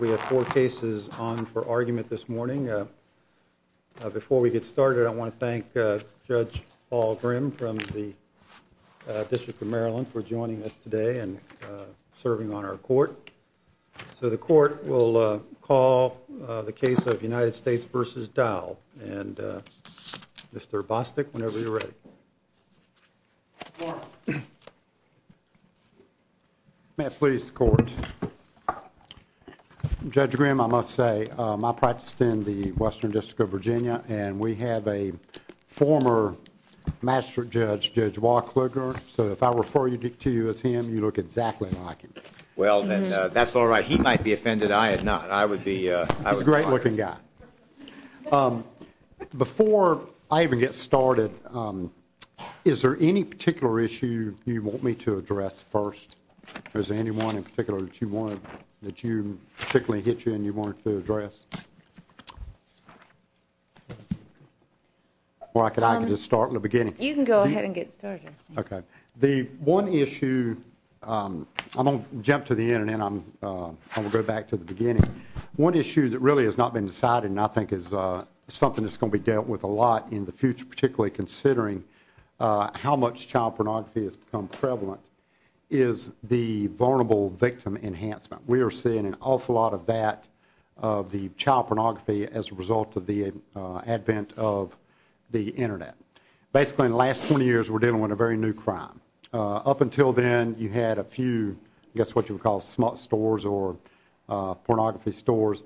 We have four cases on for argument this morning. Before we get started, I want to thank Judge Paul Grimm from the District of Maryland for joining us today and serving on our court. So the court will call the case of United States v. Dowell. And Mr. Bostic, whenever you're ready. Judge Bostic May I please the court? Judge Grimm, I must say, I practiced in the Western District of Virginia and we have a former Master Judge, Judge Walker. So if I refer to you as him, you look exactly like him. Judge Grimm Well, that's all right. He might be offended. I am not. Judge Bostic He's a great looking guy. Before I even get started, is there any particular issue you want me to address first? Is there any one in particular that you particularly hit you and you wanted to address? Or I can just start in the beginning. Judge Walker You can go ahead and get started. Judge Bostic Okay. The one issue, I'm going to jump to the end and then I'm going to go back to the beginning. One issue that really has not been decided and I think is something that's going to be dealt with a lot in the future, particularly considering how much child pornography has become prevalent, is the vulnerable victim enhancement. We are seeing an awful lot of that of the child pornography as a result of the advent of the Internet. Basically in the last 20 years we're dealing with a very new crime. Up until then you had a few, I guess what you would call, smart stores or pornography stores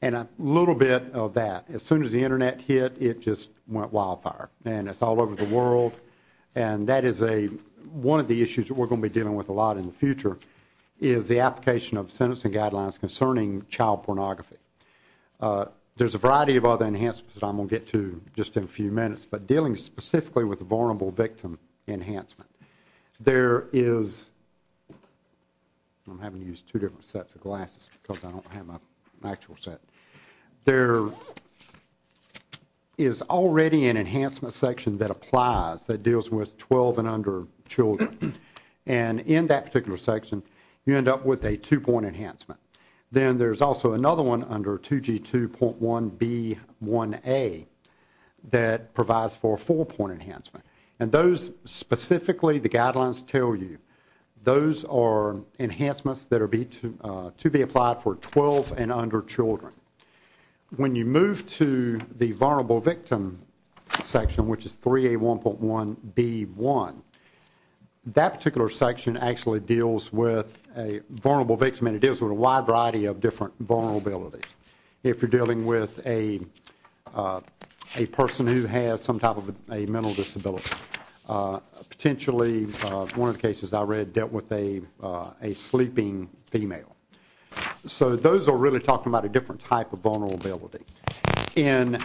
and a little bit of that. As soon as the Internet hit, it just went wildfire and it's all over the world. And that is one of the issues that we're going to be dealing with a lot in the future, is the application of sentencing guidelines concerning child pornography. There's a variety of other enhancements that I'm going to get to just in a few minutes, but dealing specifically with the vulnerable victim enhancement. There is, I'm having to use two different sets of glasses because I don't have an actual set. There is already an enhancement section that applies that deals with 12 and under children. And in that particular section you end up with a two-point enhancement. Then there's also another one under 2G2.1B1A that provides for a four-point enhancement. And those specifically, the guidelines tell you, those are enhancements that are to be applied for 12 and under children. When you move to the vulnerable victim section, which is 3A1.1B1, that particular section actually deals with a vulnerable victim and it deals with a wide variety of different vulnerabilities. If you're dealing with a person who has some type of a mental disability, potentially one of the cases I read dealt with a sleeping female. So those are really talking about a different type of vulnerability. And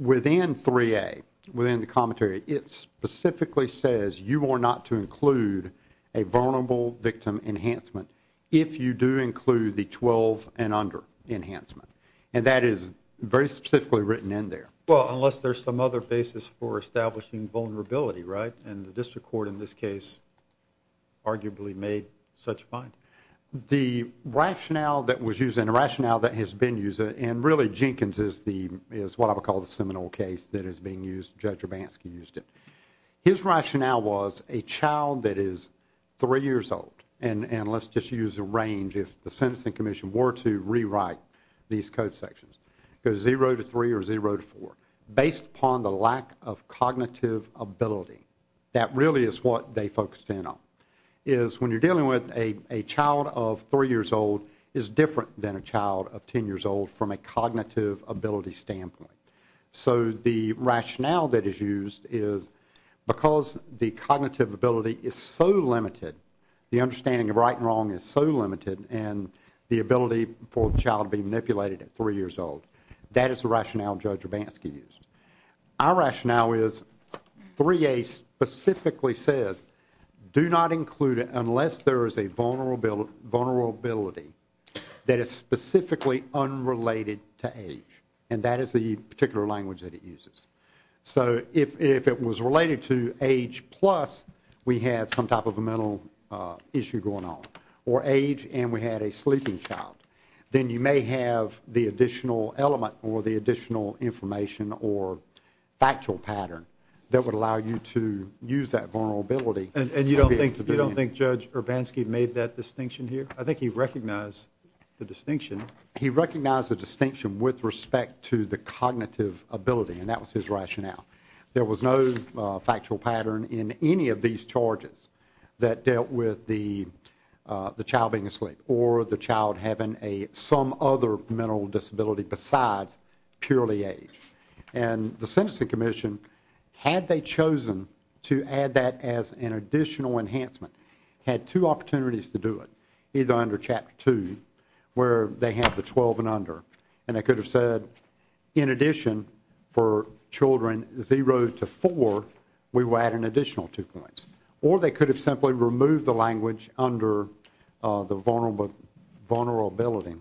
within 3A, within the commentary, it specifically says you are not to include a vulnerable victim enhancement if you do include the 12 and under enhancement. And that is very specifically written in there. Well, unless there's some other basis for establishing vulnerability, right? And the district court in this case arguably made such a point. The rationale that was used and the rationale that has been used, and really Jenkins is what I would call the seminal case that is being used. Judge Urbanski used it. His rationale was a child that is three years old, and let's just use a range if the sentencing commission were to rewrite these code sections, goes 0 to 3 or 0 to 4, based upon the lack of cognitive ability. That really is what they focused in on, is when you're dealing with a child of three years old is different than a child of ten years old from a cognitive ability standpoint. So the rationale that is used is because the cognitive ability is so limited, the understanding of right and wrong is so limited, and the ability for the child to be manipulated at three years old. That is the rationale Judge Urbanski used. Our rationale is 3A specifically says, do not include it unless there is a vulnerability that is specifically unrelated to age, and that is the particular language that it uses. So if it was related to age plus we had some type of a mental issue going on, or age and we had a sleeping child, then you may have the additional element or the additional information or factual pattern that would allow you to use that vulnerability. And you don't think Judge Urbanski made that distinction here? I think he recognized the distinction. He recognized the distinction with respect to the cognitive ability, and that was his rationale. There was no factual pattern in any of these charges that dealt with the child being asleep or the child having some other mental disability besides purely age. And the Sentencing Commission, had they chosen to add that as an additional enhancement, had two opportunities to do it, either under Chapter 2 where they have the 12 and under, and they could have said, in addition for children 0 to 4, we will add an additional two points. Or they could have simply removed the language under the vulnerability.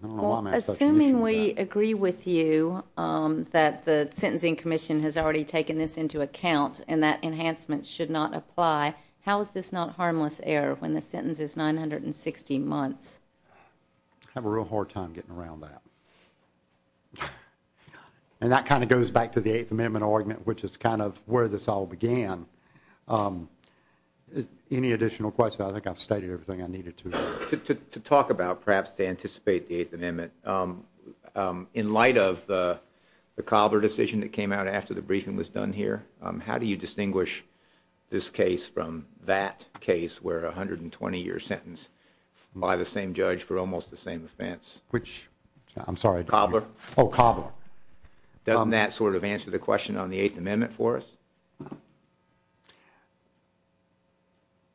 Assuming we agree with you that the Sentencing Commission has already taken this into account and that enhancement should not apply, how is this not harmless error when the sentence is 960 months? I have a real hard time getting around that. And that kind of goes back to the Eighth Amendment argument, which is kind of where this all began. Any additional questions? I think I've stated everything I needed to. To talk about, perhaps to anticipate the Eighth Amendment, in light of the Cobler decision that came out after the briefing was done here, how do you distinguish this case from that case where a 120-year sentence by the same judge for almost the same offense? Cobbler. Oh, Cobbler. Doesn't that sort of answer the question on the Eighth Amendment for us?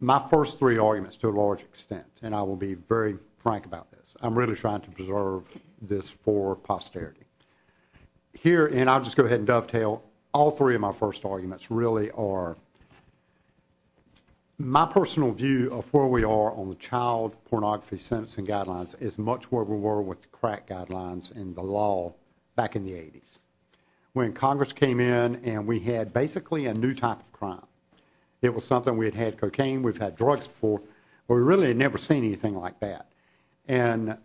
My first three arguments, to a large extent, and I will be very frank about this, I'm really trying to preserve this for posterity. Here, and I'll just go ahead and dovetail, all three of my first arguments really are My personal view of where we are on the child pornography sentencing guidelines is much where we were with the crack guidelines and the law back in the 80s. When Congress came in and we had basically a new type of crime, it was something we had had cocaine, we've had drugs before, but we really had never seen anything like that. And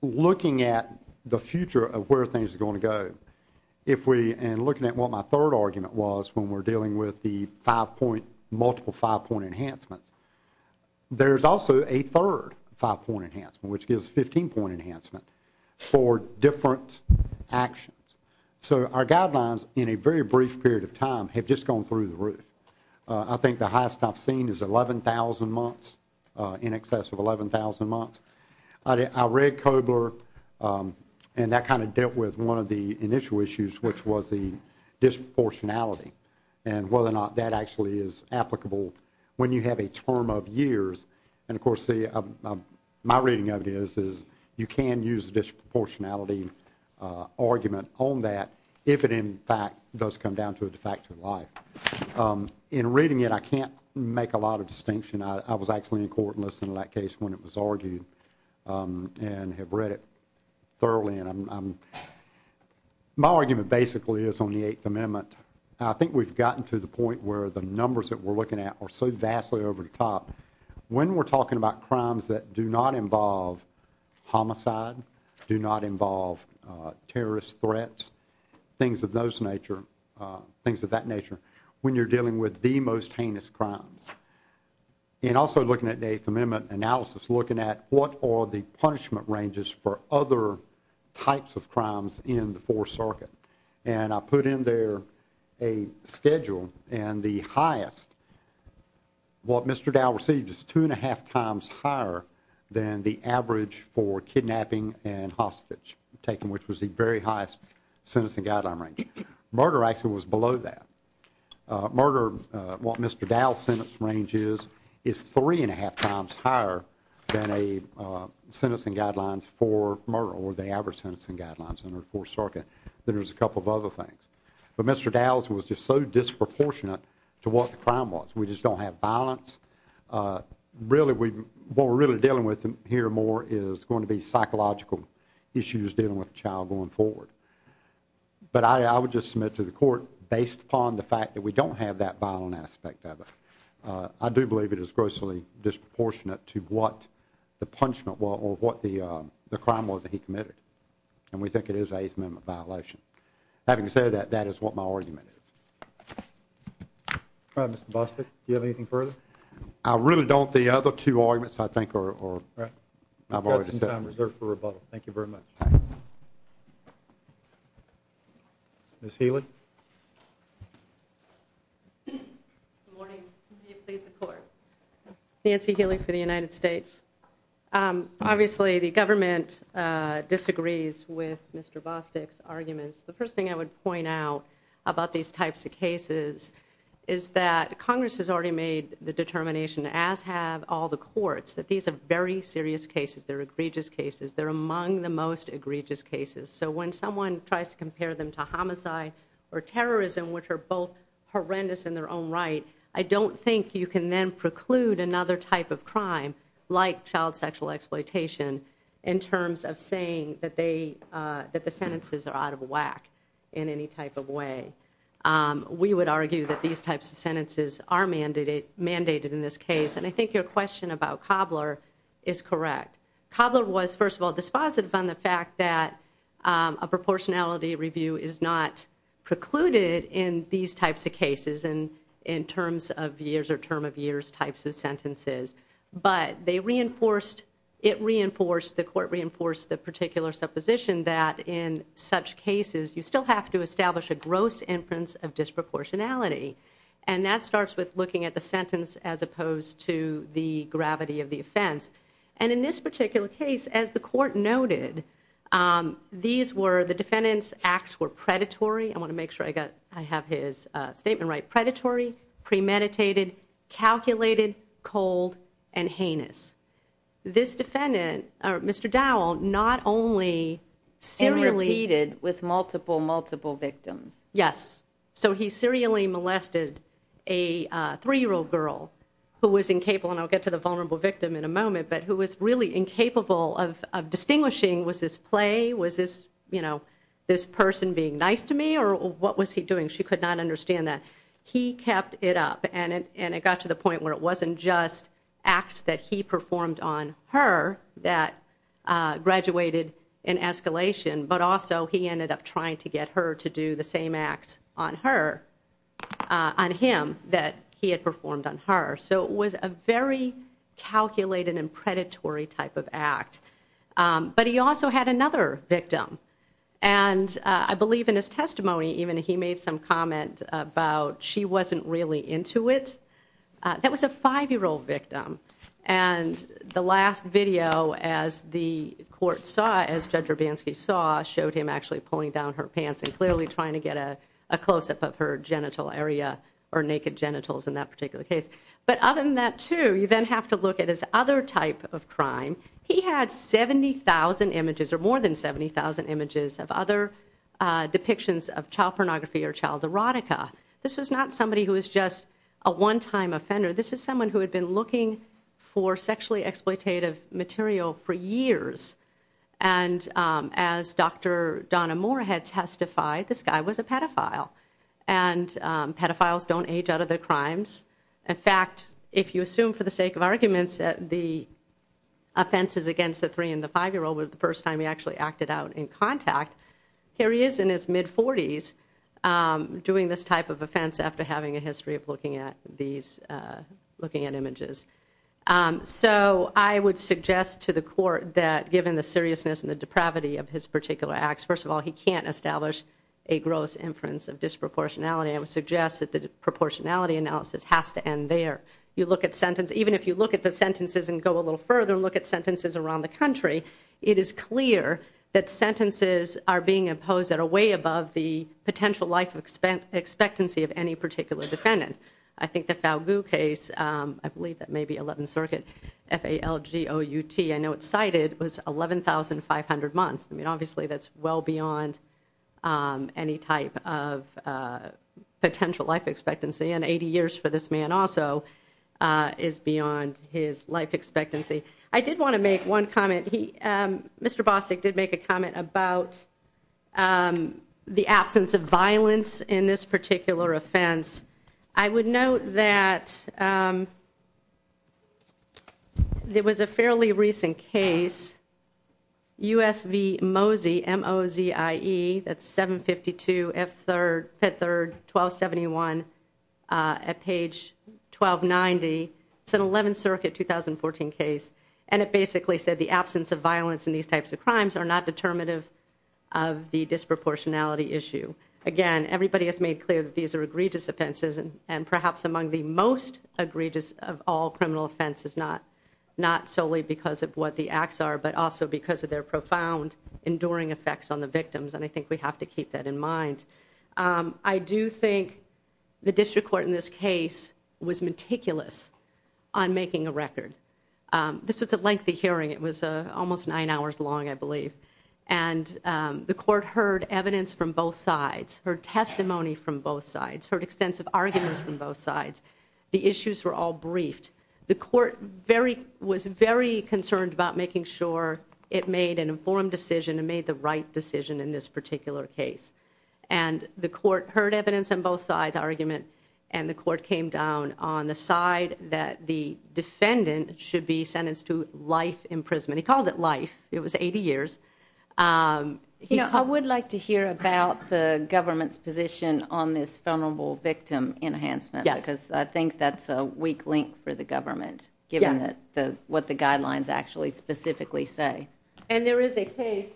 looking at the future of where things are going to go, and looking at what my third argument was when we're dealing with the multiple five-point enhancements, there's also a third five-point enhancement, which gives 15-point enhancement for different actions. So our guidelines, in a very brief period of time, have just gone through the roof. I think the highest I've seen is 11,000 months, in excess of 11,000 months. I read Kobler, and that kind of dealt with one of the initial issues, which was the disproportionality and whether or not that actually is applicable when you have a term of years. And, of course, my reading of it is you can use a disproportionality argument on that if it, in fact, does come down to a de facto life. In reading it, I can't make a lot of distinction. I was actually in court and listened to that case when it was argued and have read it thoroughly. And my argument basically is on the Eighth Amendment. I think we've gotten to the point where the numbers that we're looking at are so vastly over the top. When we're talking about crimes that do not involve homicide, do not involve terrorist threats, things of that nature, when you're dealing with the most heinous crimes. And also looking at the Eighth Amendment analysis, looking at what are the punishment ranges for other types of crimes in the Fourth Circuit. And I put in there a schedule, and the highest, what Mr. Dow received, is two and a half times higher than the average for kidnapping and hostage taking, which was the very highest sentencing guideline range. Murder actually was below that. Murder, what Mr. Dow's sentence range is, is three and a half times higher than a sentencing guidelines for murder or the average sentencing guidelines under the Fourth Circuit than there is a couple of other things. But Mr. Dow's was just so disproportionate to what the crime was. We just don't have violence. Really, what we're really dealing with here more is going to be psychological issues dealing with the child going forward. But I would just submit to the court, based upon the fact that we don't have that violent aspect of it, I do believe it is grossly disproportionate to what the punishment was or what the crime was that he committed. And we think it is an Eighth Amendment violation. Having said that, that is what my argument is. Mr. Bostick, do you have anything further? I really don't. The other two arguments, I think, I've already said. We've got some time reserved for rebuttal. Thank you very much. Ms. Healy. Good morning. May it please the Court. Nancy Healy for the United States. Obviously, the government disagrees with Mr. Bostick's arguments. The first thing I would point out about these types of cases is that Congress has already made the determination, as have all the courts, that these are very serious cases. They're egregious cases. They're among the most egregious cases. So when someone tries to compare them to homicide or terrorism, which are both horrendous in their own right, I don't think you can then preclude another type of crime like child sexual exploitation in terms of saying that the sentences are out of whack in any type of way. We would argue that these types of sentences are mandated in this case, and I think your question about Cobbler is correct. Cobbler was, first of all, dispositive on the fact that a proportionality review is not precluded in these types of cases, in terms of years or term of years types of sentences. But they reinforced, it reinforced, the court reinforced the particular supposition that in such cases you still have to establish a gross inference of disproportionality. And that starts with looking at the sentence as opposed to the gravity of the offense. And in this particular case, as the court noted, the defendant's acts were predatory. I want to make sure I have his statement right. Predatory, premeditated, calculated, cold, and heinous. This defendant, Mr. Dowell, not only serially... And repeated with multiple, multiple victims. Yes. So he serially molested a 3-year-old girl who was incapable, and I'll get to the vulnerable victim in a moment, but who was really incapable of distinguishing, was this play, was this person being nice to me, or what was he doing? She could not understand that. He kept it up, and it got to the point where it wasn't just acts that he performed on her that graduated in escalation, but also he ended up trying to get her to do the same acts on her, on him, that he had performed on her. So it was a very calculated and predatory type of act. But he also had another victim. And I believe in his testimony even he made some comment about she wasn't really into it. That was a 5-year-old victim. And the last video, as the court saw, as Judge Urbanski saw, showed him actually pulling down her pants and clearly trying to get a close-up of her genital area, or naked genitals in that particular case. But other than that, too, you then have to look at his other type of crime. He had 70,000 images, or more than 70,000 images, of other depictions of child pornography or child erotica. This was not somebody who was just a one-time offender. This is someone who had been looking for sexually exploitative material for years. And as Dr. Donna Moore had testified, this guy was a pedophile. In fact, if you assume for the sake of arguments that the offenses against the 3- and the 5-year-old was the first time he actually acted out in contact, here he is in his mid-40s doing this type of offense after having a history of looking at images. So I would suggest to the court that, given the seriousness and the depravity of his particular acts, first of all, he can't establish a gross inference of disproportionality. And I would suggest that the proportionality analysis has to end there. Even if you look at the sentences and go a little further and look at sentences around the country, it is clear that sentences are being imposed at a way above the potential life expectancy of any particular defendant. I think the Falgu case, I believe that may be 11th Circuit, F-A-L-G-O-U-T, I know it's cited, was 11,500 months. I mean, obviously that's well beyond any type of potential life expectancy, and 80 years for this man also is beyond his life expectancy. I did want to make one comment. Mr. Bostic did make a comment about the absence of violence in this particular offense. I would note that there was a fairly recent case, U.S. v. Mosey, M-O-Z-I-E, that's 752 F-3rd, 1271, at page 1290. It's an 11th Circuit 2014 case, and it basically said the absence of violence in these types of crimes are not determinative of the disproportionality issue. Again, everybody has made clear that these are egregious offenses, and perhaps among the most egregious of all criminal offenses, not solely because of what the acts are, but also because of their profound enduring effects on the victims, and I think we have to keep that in mind. I do think the district court in this case was meticulous on making a record. This was a lengthy hearing. It was almost nine hours long, I believe, and the court heard evidence from both sides, heard testimony from both sides, heard extensive arguments from both sides. The issues were all briefed. The court was very concerned about making sure it made an informed decision and made the right decision in this particular case, and the court heard evidence on both sides, argument, and the court came down on the side that the defendant should be sentenced to life imprisonment. He called it life. It was 80 years. I would like to hear about the government's position on this vulnerable victim enhancement because I think that's a weak link for the government, given what the guidelines actually specifically say. And there is a case.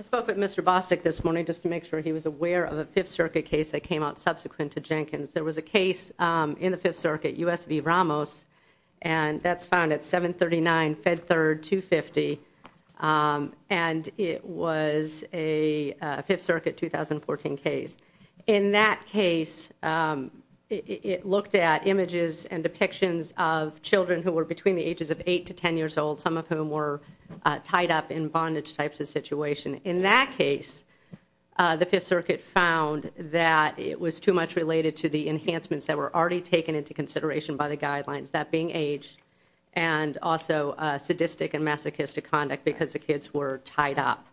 I spoke with Mr. Bostic this morning just to make sure he was aware of a Fifth Circuit case that came out subsequent to Jenkins. There was a case in the Fifth Circuit, U.S. v. Ramos, and that's found at 739 Fed Third 250, and it was a Fifth Circuit 2014 case. In that case, it looked at images and depictions of children who were between the ages of 8 to 10 years old, some of whom were tied up in bondage types of situation. In that case, the Fifth Circuit found that it was too much related to the enhancements that were already taken into consideration by the guidelines, that being age and also sadistic and masochistic conduct because the kids were tied up.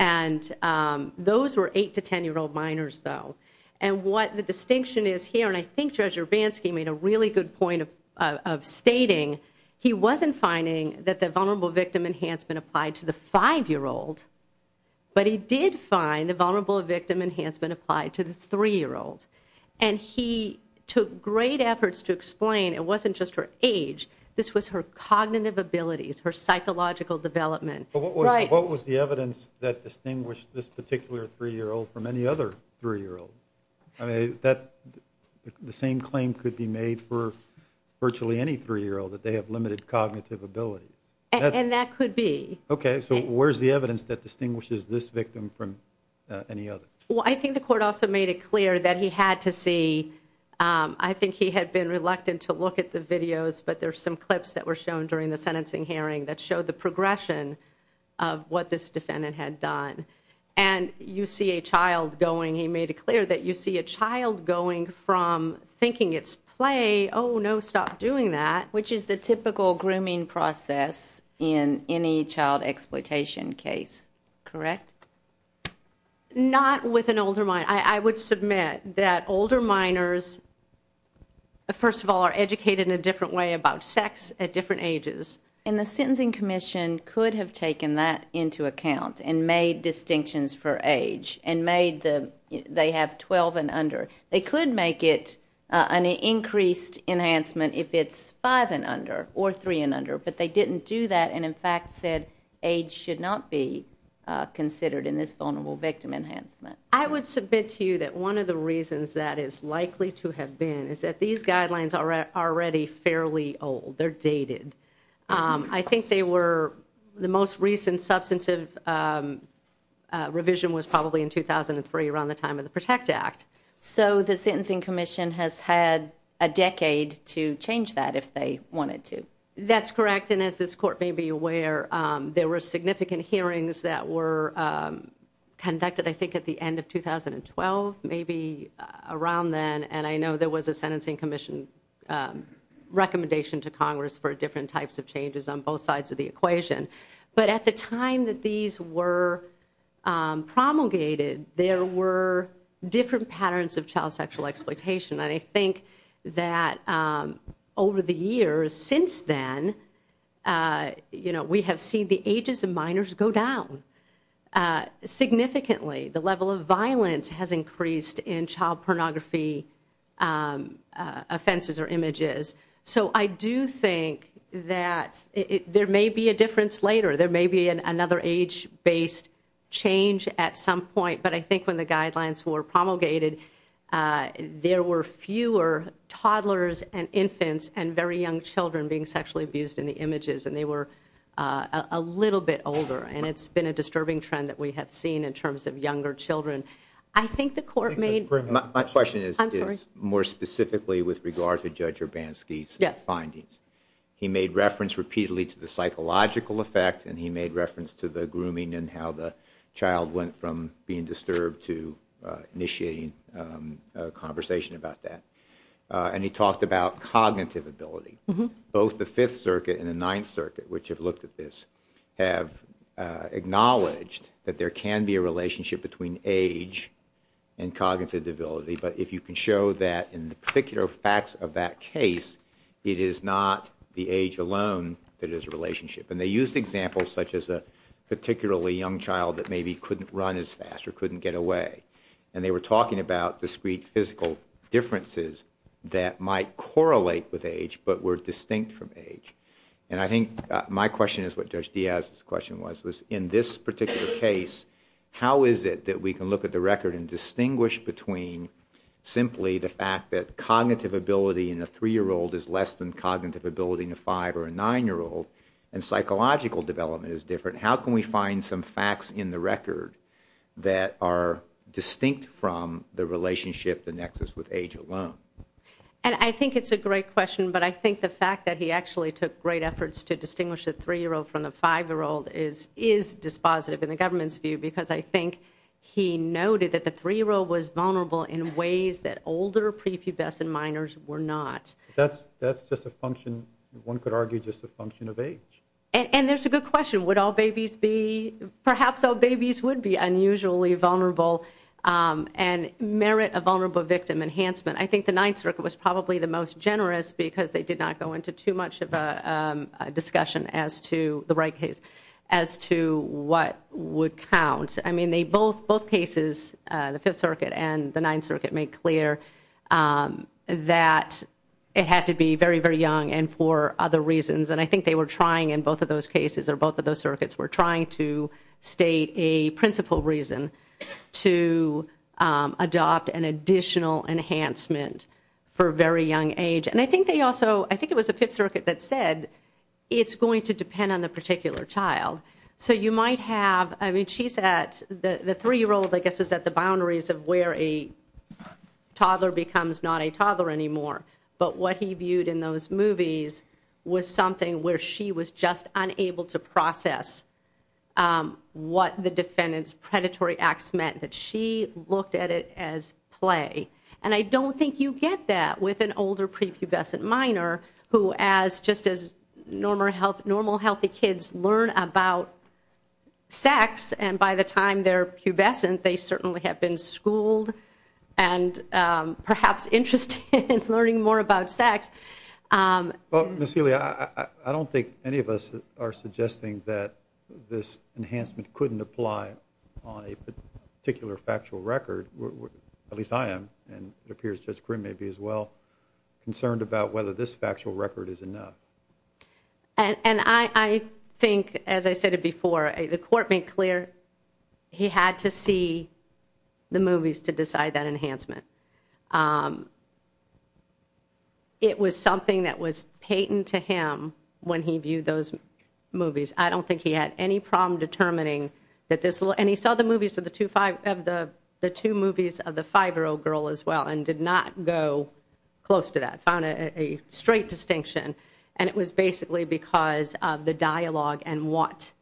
And those were 8- to 10-year-old minors, though. And what the distinction is here, and I think Judge Urbanski made a really good point of stating he wasn't finding that the vulnerable victim enhancement applied to the 5-year-old, but he did find the vulnerable victim enhancement applied to the 3-year-old. And he took great efforts to explain it wasn't just her age, this was her cognitive abilities, her psychological development. But what was the evidence that distinguished this particular 3-year-old from any other 3-year-old? I mean, the same claim could be made for virtually any 3-year-old, that they have limited cognitive abilities. And that could be. Okay, so where's the evidence that distinguishes this victim from any other? Well, I think the court also made it clear that he had to see, I think he had been reluctant to look at the videos, but there's some clips that were shown during the sentencing hearing that showed the progression of what this defendant had done. And you see a child going, he made it clear that you see a child going from thinking it's play, oh, no, stop doing that. Which is the typical grooming process in any child exploitation case, correct? Not with an older minor. I would submit that older minors, first of all, are educated in a different way about sex at different ages. And the Sentencing Commission could have taken that into account and made distinctions for age and made the, they have 12 and under. They could make it an increased enhancement if it's 5 and under or 3 and under, but they didn't do that and, in fact, said age should not be considered in this vulnerable victim enhancement. I would submit to you that one of the reasons that is likely to have been is that these guidelines are already fairly old. They're dated. I think they were, the most recent substantive revision was probably in 2003, around the time of the PROTECT Act. So the Sentencing Commission has had a decade to change that if they wanted to. That's correct, and as this court may be aware, there were significant hearings that were conducted, I think, at the end of 2012, maybe around then, and I know there was a Sentencing Commission recommendation to Congress for different types of changes on both sides of the equation. But at the time that these were promulgated, there were different patterns of child sexual exploitation. I think that over the years since then, you know, we have seen the ages of minors go down significantly. The level of violence has increased in child pornography offenses or images. So I do think that there may be a difference later. There may be another age-based change at some point, but I think when the guidelines were promulgated, there were fewer toddlers and infants and very young children being sexually abused in the images, and they were a little bit older, and it's been a disturbing trend that we have seen in terms of younger children. I think the court made— My question is more specifically with regard to Judge Urbanski's findings. He made reference repeatedly to the psychological effect, and he made reference to the grooming and how the child went from being disturbed to initiating a conversation about that. And he talked about cognitive ability. Both the Fifth Circuit and the Ninth Circuit, which have looked at this, have acknowledged that there can be a relationship between age and cognitive ability, but if you can show that in the particular facts of that case, it is not the age alone that is a relationship. And they used examples such as a particularly young child that maybe couldn't run as fast or couldn't get away, and they were talking about discrete physical differences that might correlate with age but were distinct from age. And I think my question is what Judge Diaz's question was, was in this particular case, how is it that we can look at the record and distinguish between simply the fact that cognitive ability in a 3-year-old is less than cognitive ability in a 5- or a 9-year-old, and psychological development is different? How can we find some facts in the record that are distinct from the relationship, the nexus, with age alone? And I think it's a great question, but I think the fact that he actually took great efforts to distinguish a 3-year-old from a 5-year-old is dispositive in the government's view because I think he noted that the 3-year-old was vulnerable in ways that older prepubescent minors were not. That's just a function, one could argue, just a function of age. And there's a good question. Would all babies be, perhaps all babies would be unusually vulnerable and merit a vulnerable victim enhancement? I think the Ninth Circuit was probably the most generous because they did not go into too much of a discussion as to the right case as to what would count. I mean, both cases, the Fifth Circuit and the Ninth Circuit, made clear that it had to be very, very young and for other reasons. And I think they were trying in both of those cases or both of those circuits were trying to state a principal reason to adopt an additional enhancement for a very young age. And I think they also, I think it was the Fifth Circuit that said it's going to depend on the particular child. So you might have, I mean, she's at, the 3-year-old, I guess, is at the boundaries of where a toddler becomes not a toddler anymore. But what he viewed in those movies was something where she was just unable to process what the defendant's predatory acts meant, that she looked at it as play. And I don't think you get that with an older prepubescent minor who, as just as normal healthy kids learn about sex and by the time they're pubescent, they certainly have been schooled and perhaps interested in learning more about sex. Well, Ms. Healy, I don't think any of us are suggesting that this enhancement couldn't apply on a particular factual record. At least I am, and it appears Judge Grimm may be as well, concerned about whether this factual record is enough. And I think, as I said before, the court made clear he had to see the movies to decide that enhancement. It was something that was patent to him when he viewed those movies. I don't think he had any problem determining that this, and he saw the movies of the two movies of the 5-year-old girl as well and did not go close to that, found a straight distinction. And it was basically because of the dialogue and what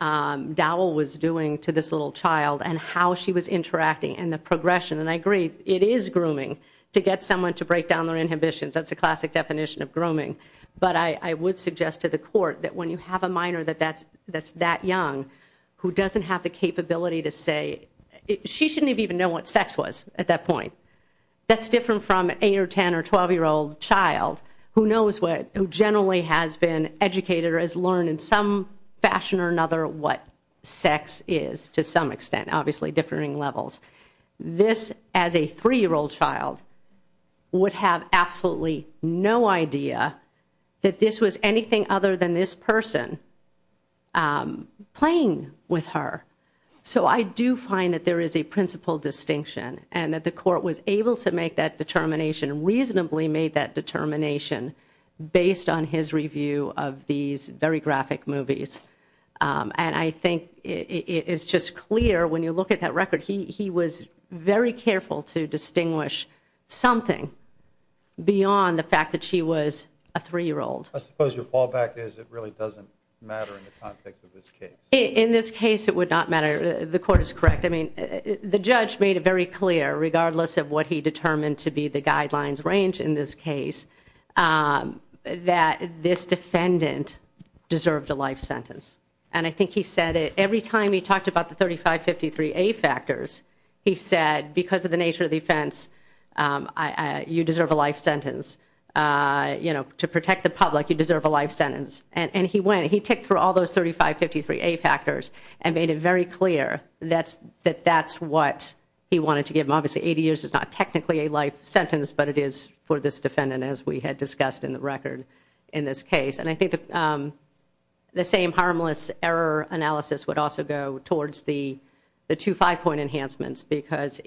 Dowell was doing to this little child and how she was interacting and the progression. And I agree, it is grooming to get someone to break down their inhibitions. That's a classic definition of grooming. But I would suggest to the court that when you have a minor that's that young who doesn't have the capability to say, she shouldn't even know what sex was at that point. That's different from an 8- or 10- or 12-year-old child who knows what, who generally has been educated or has learned in some fashion or another what sex is to some extent. Obviously, differing levels. This, as a 3-year-old child, would have absolutely no idea that this was anything other than this person playing with her. So I do find that there is a principal distinction and that the court was able to make that determination, reasonably made that determination, based on his review of these very graphic movies. And I think it is just clear when you look at that record, he was very careful to distinguish something beyond the fact that she was a 3-year-old. I suppose your fallback is it really doesn't matter in the context of this case. In this case, it would not matter. The court is correct. I mean, the judge made it very clear, regardless of what he determined to be the guidelines range in this case, that this defendant deserved a life sentence. And I think he said it every time he talked about the 3553A factors, he said, because of the nature of the offense, you deserve a life sentence. To protect the public, you deserve a life sentence. And he went and he ticked through all those 3553A factors and made it very clear that that's what he wanted to give them. Obviously, 80 years is not technically a life sentence, but it is for this defendant, as we had discussed in the record in this case. And I think the same harmless error analysis would also go towards the 2-5 point enhancements, because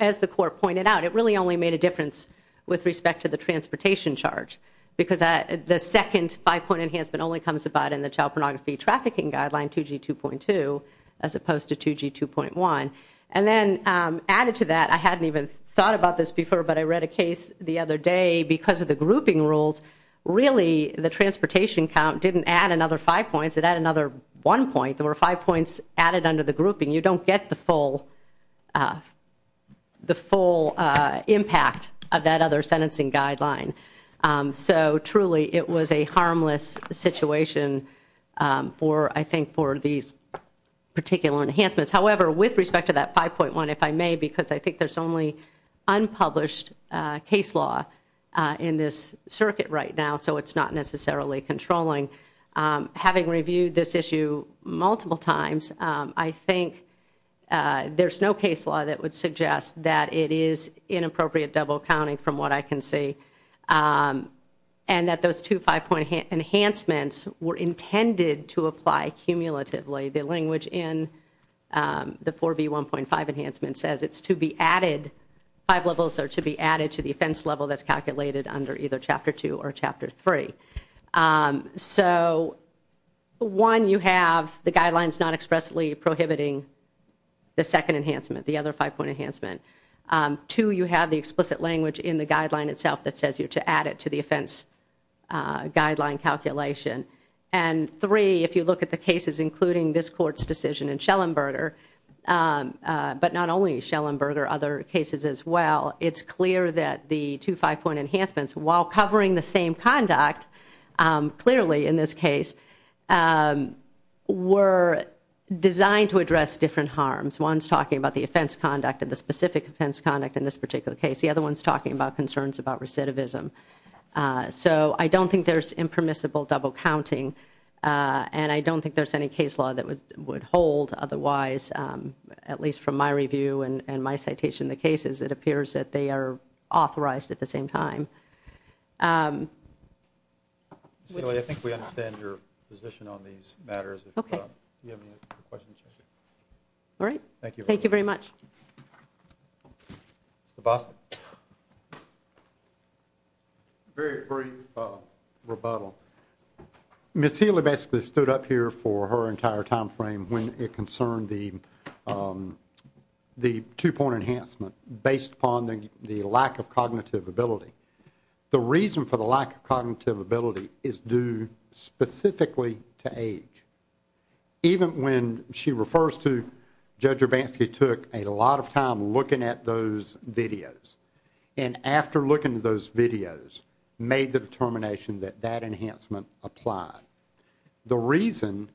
as the court pointed out, it really only made a difference with respect to the transportation charge, because the second 5-point enhancement only comes about in the Child Pornography Trafficking Guideline, 2G2.2, as opposed to 2G2.1. And then added to that, I hadn't even thought about this before, but I read a case the other day, because of the grouping rules, really the transportation count didn't add another 5 points, it added another 1 point. There were 5 points added under the grouping. You don't get the full impact of that other sentencing guideline. So, truly, it was a harmless situation for, I think, for these particular enhancements. However, with respect to that 5-point one, if I may, because I think there's only unpublished case law in this circuit right now, so it's not necessarily controlling. Having reviewed this issue multiple times, I think there's no case law that would suggest that it is inappropriate double counting, from what I can see, and that those two 5-point enhancements were intended to apply cumulatively. The language in the 4B1.5 enhancement says it's to be added, 5 levels are to be added to the offense level that's calculated under either Chapter 2 or Chapter 3. So, one, you have the guidelines not expressly prohibiting the second enhancement, the other 5-point enhancement. Two, you have the explicit language in the guideline itself that says you're to add it to the offense guideline calculation. And three, if you look at the cases, including this Court's decision in Schellenberger, but not only Schellenberger, other cases as well, it's clear that the two 5-point enhancements, while covering the same conduct, clearly, in this case, were designed to address different harms. One's talking about the offense conduct, and the specific offense conduct in this particular case. The other one's talking about concerns about recidivism. So, I don't think there's impermissible double counting, and I don't think there's any case law that would hold, otherwise, at least from my review and my citation of the cases, it appears that they are authorized at the same time. Ms. Healy, I think we understand your position on these matters. Okay. Do you have any questions? All right. Thank you. Thank you very much. Mr. Boston. Very brief rebuttal. Ms. Healy basically stood up here for her entire time frame when it concerned the two-point enhancement, based upon the lack of cognitive ability. The reason for the lack of cognitive ability is due specifically to age. Even when she refers to Judge Urbanski took a lot of time looking at those videos, and after looking at those videos, made the determination that that enhancement applied. The reason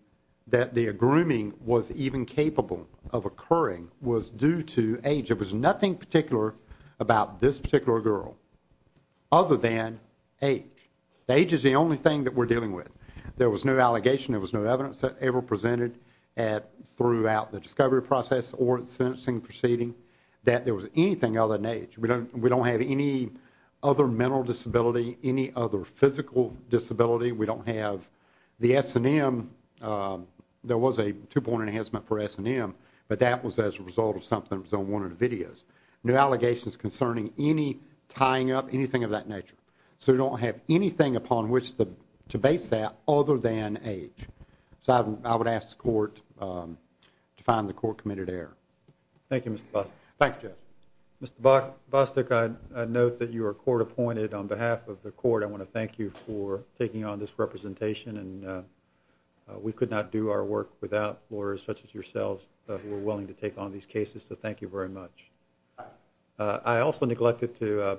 that the grooming was even capable of occurring was due to age. There was nothing particular about this particular girl other than age. Age is the only thing that we're dealing with. There was no allegation. There was no evidence ever presented throughout the discovery process or the sentencing proceeding that there was anything other than age. We don't have any other mental disability, any other physical disability. We don't have the S&M. There was a two-point enhancement for S&M, but that was as a result of something that was on one of the videos. No allegations concerning any tying up, anything of that nature. So we don't have anything upon which to base that other than age. So I would ask the court to find the court committed error. Thank you, Mr. Bostic. Thank you, Judge. Mr. Bostic, I note that you are court appointed. On behalf of the court, I want to thank you for taking on this representation, and we could not do our work without lawyers such as yourselves. We're willing to take on these cases, so thank you very much. I also neglected to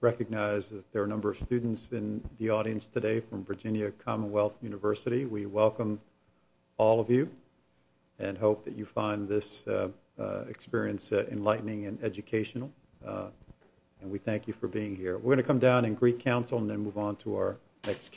recognize that there are a number of students in the audience today from Virginia Commonwealth University. We welcome all of you and hope that you find this experience enlightening and educational, and we thank you for being here. We're going to come down and greet counsel and then move on to our next case.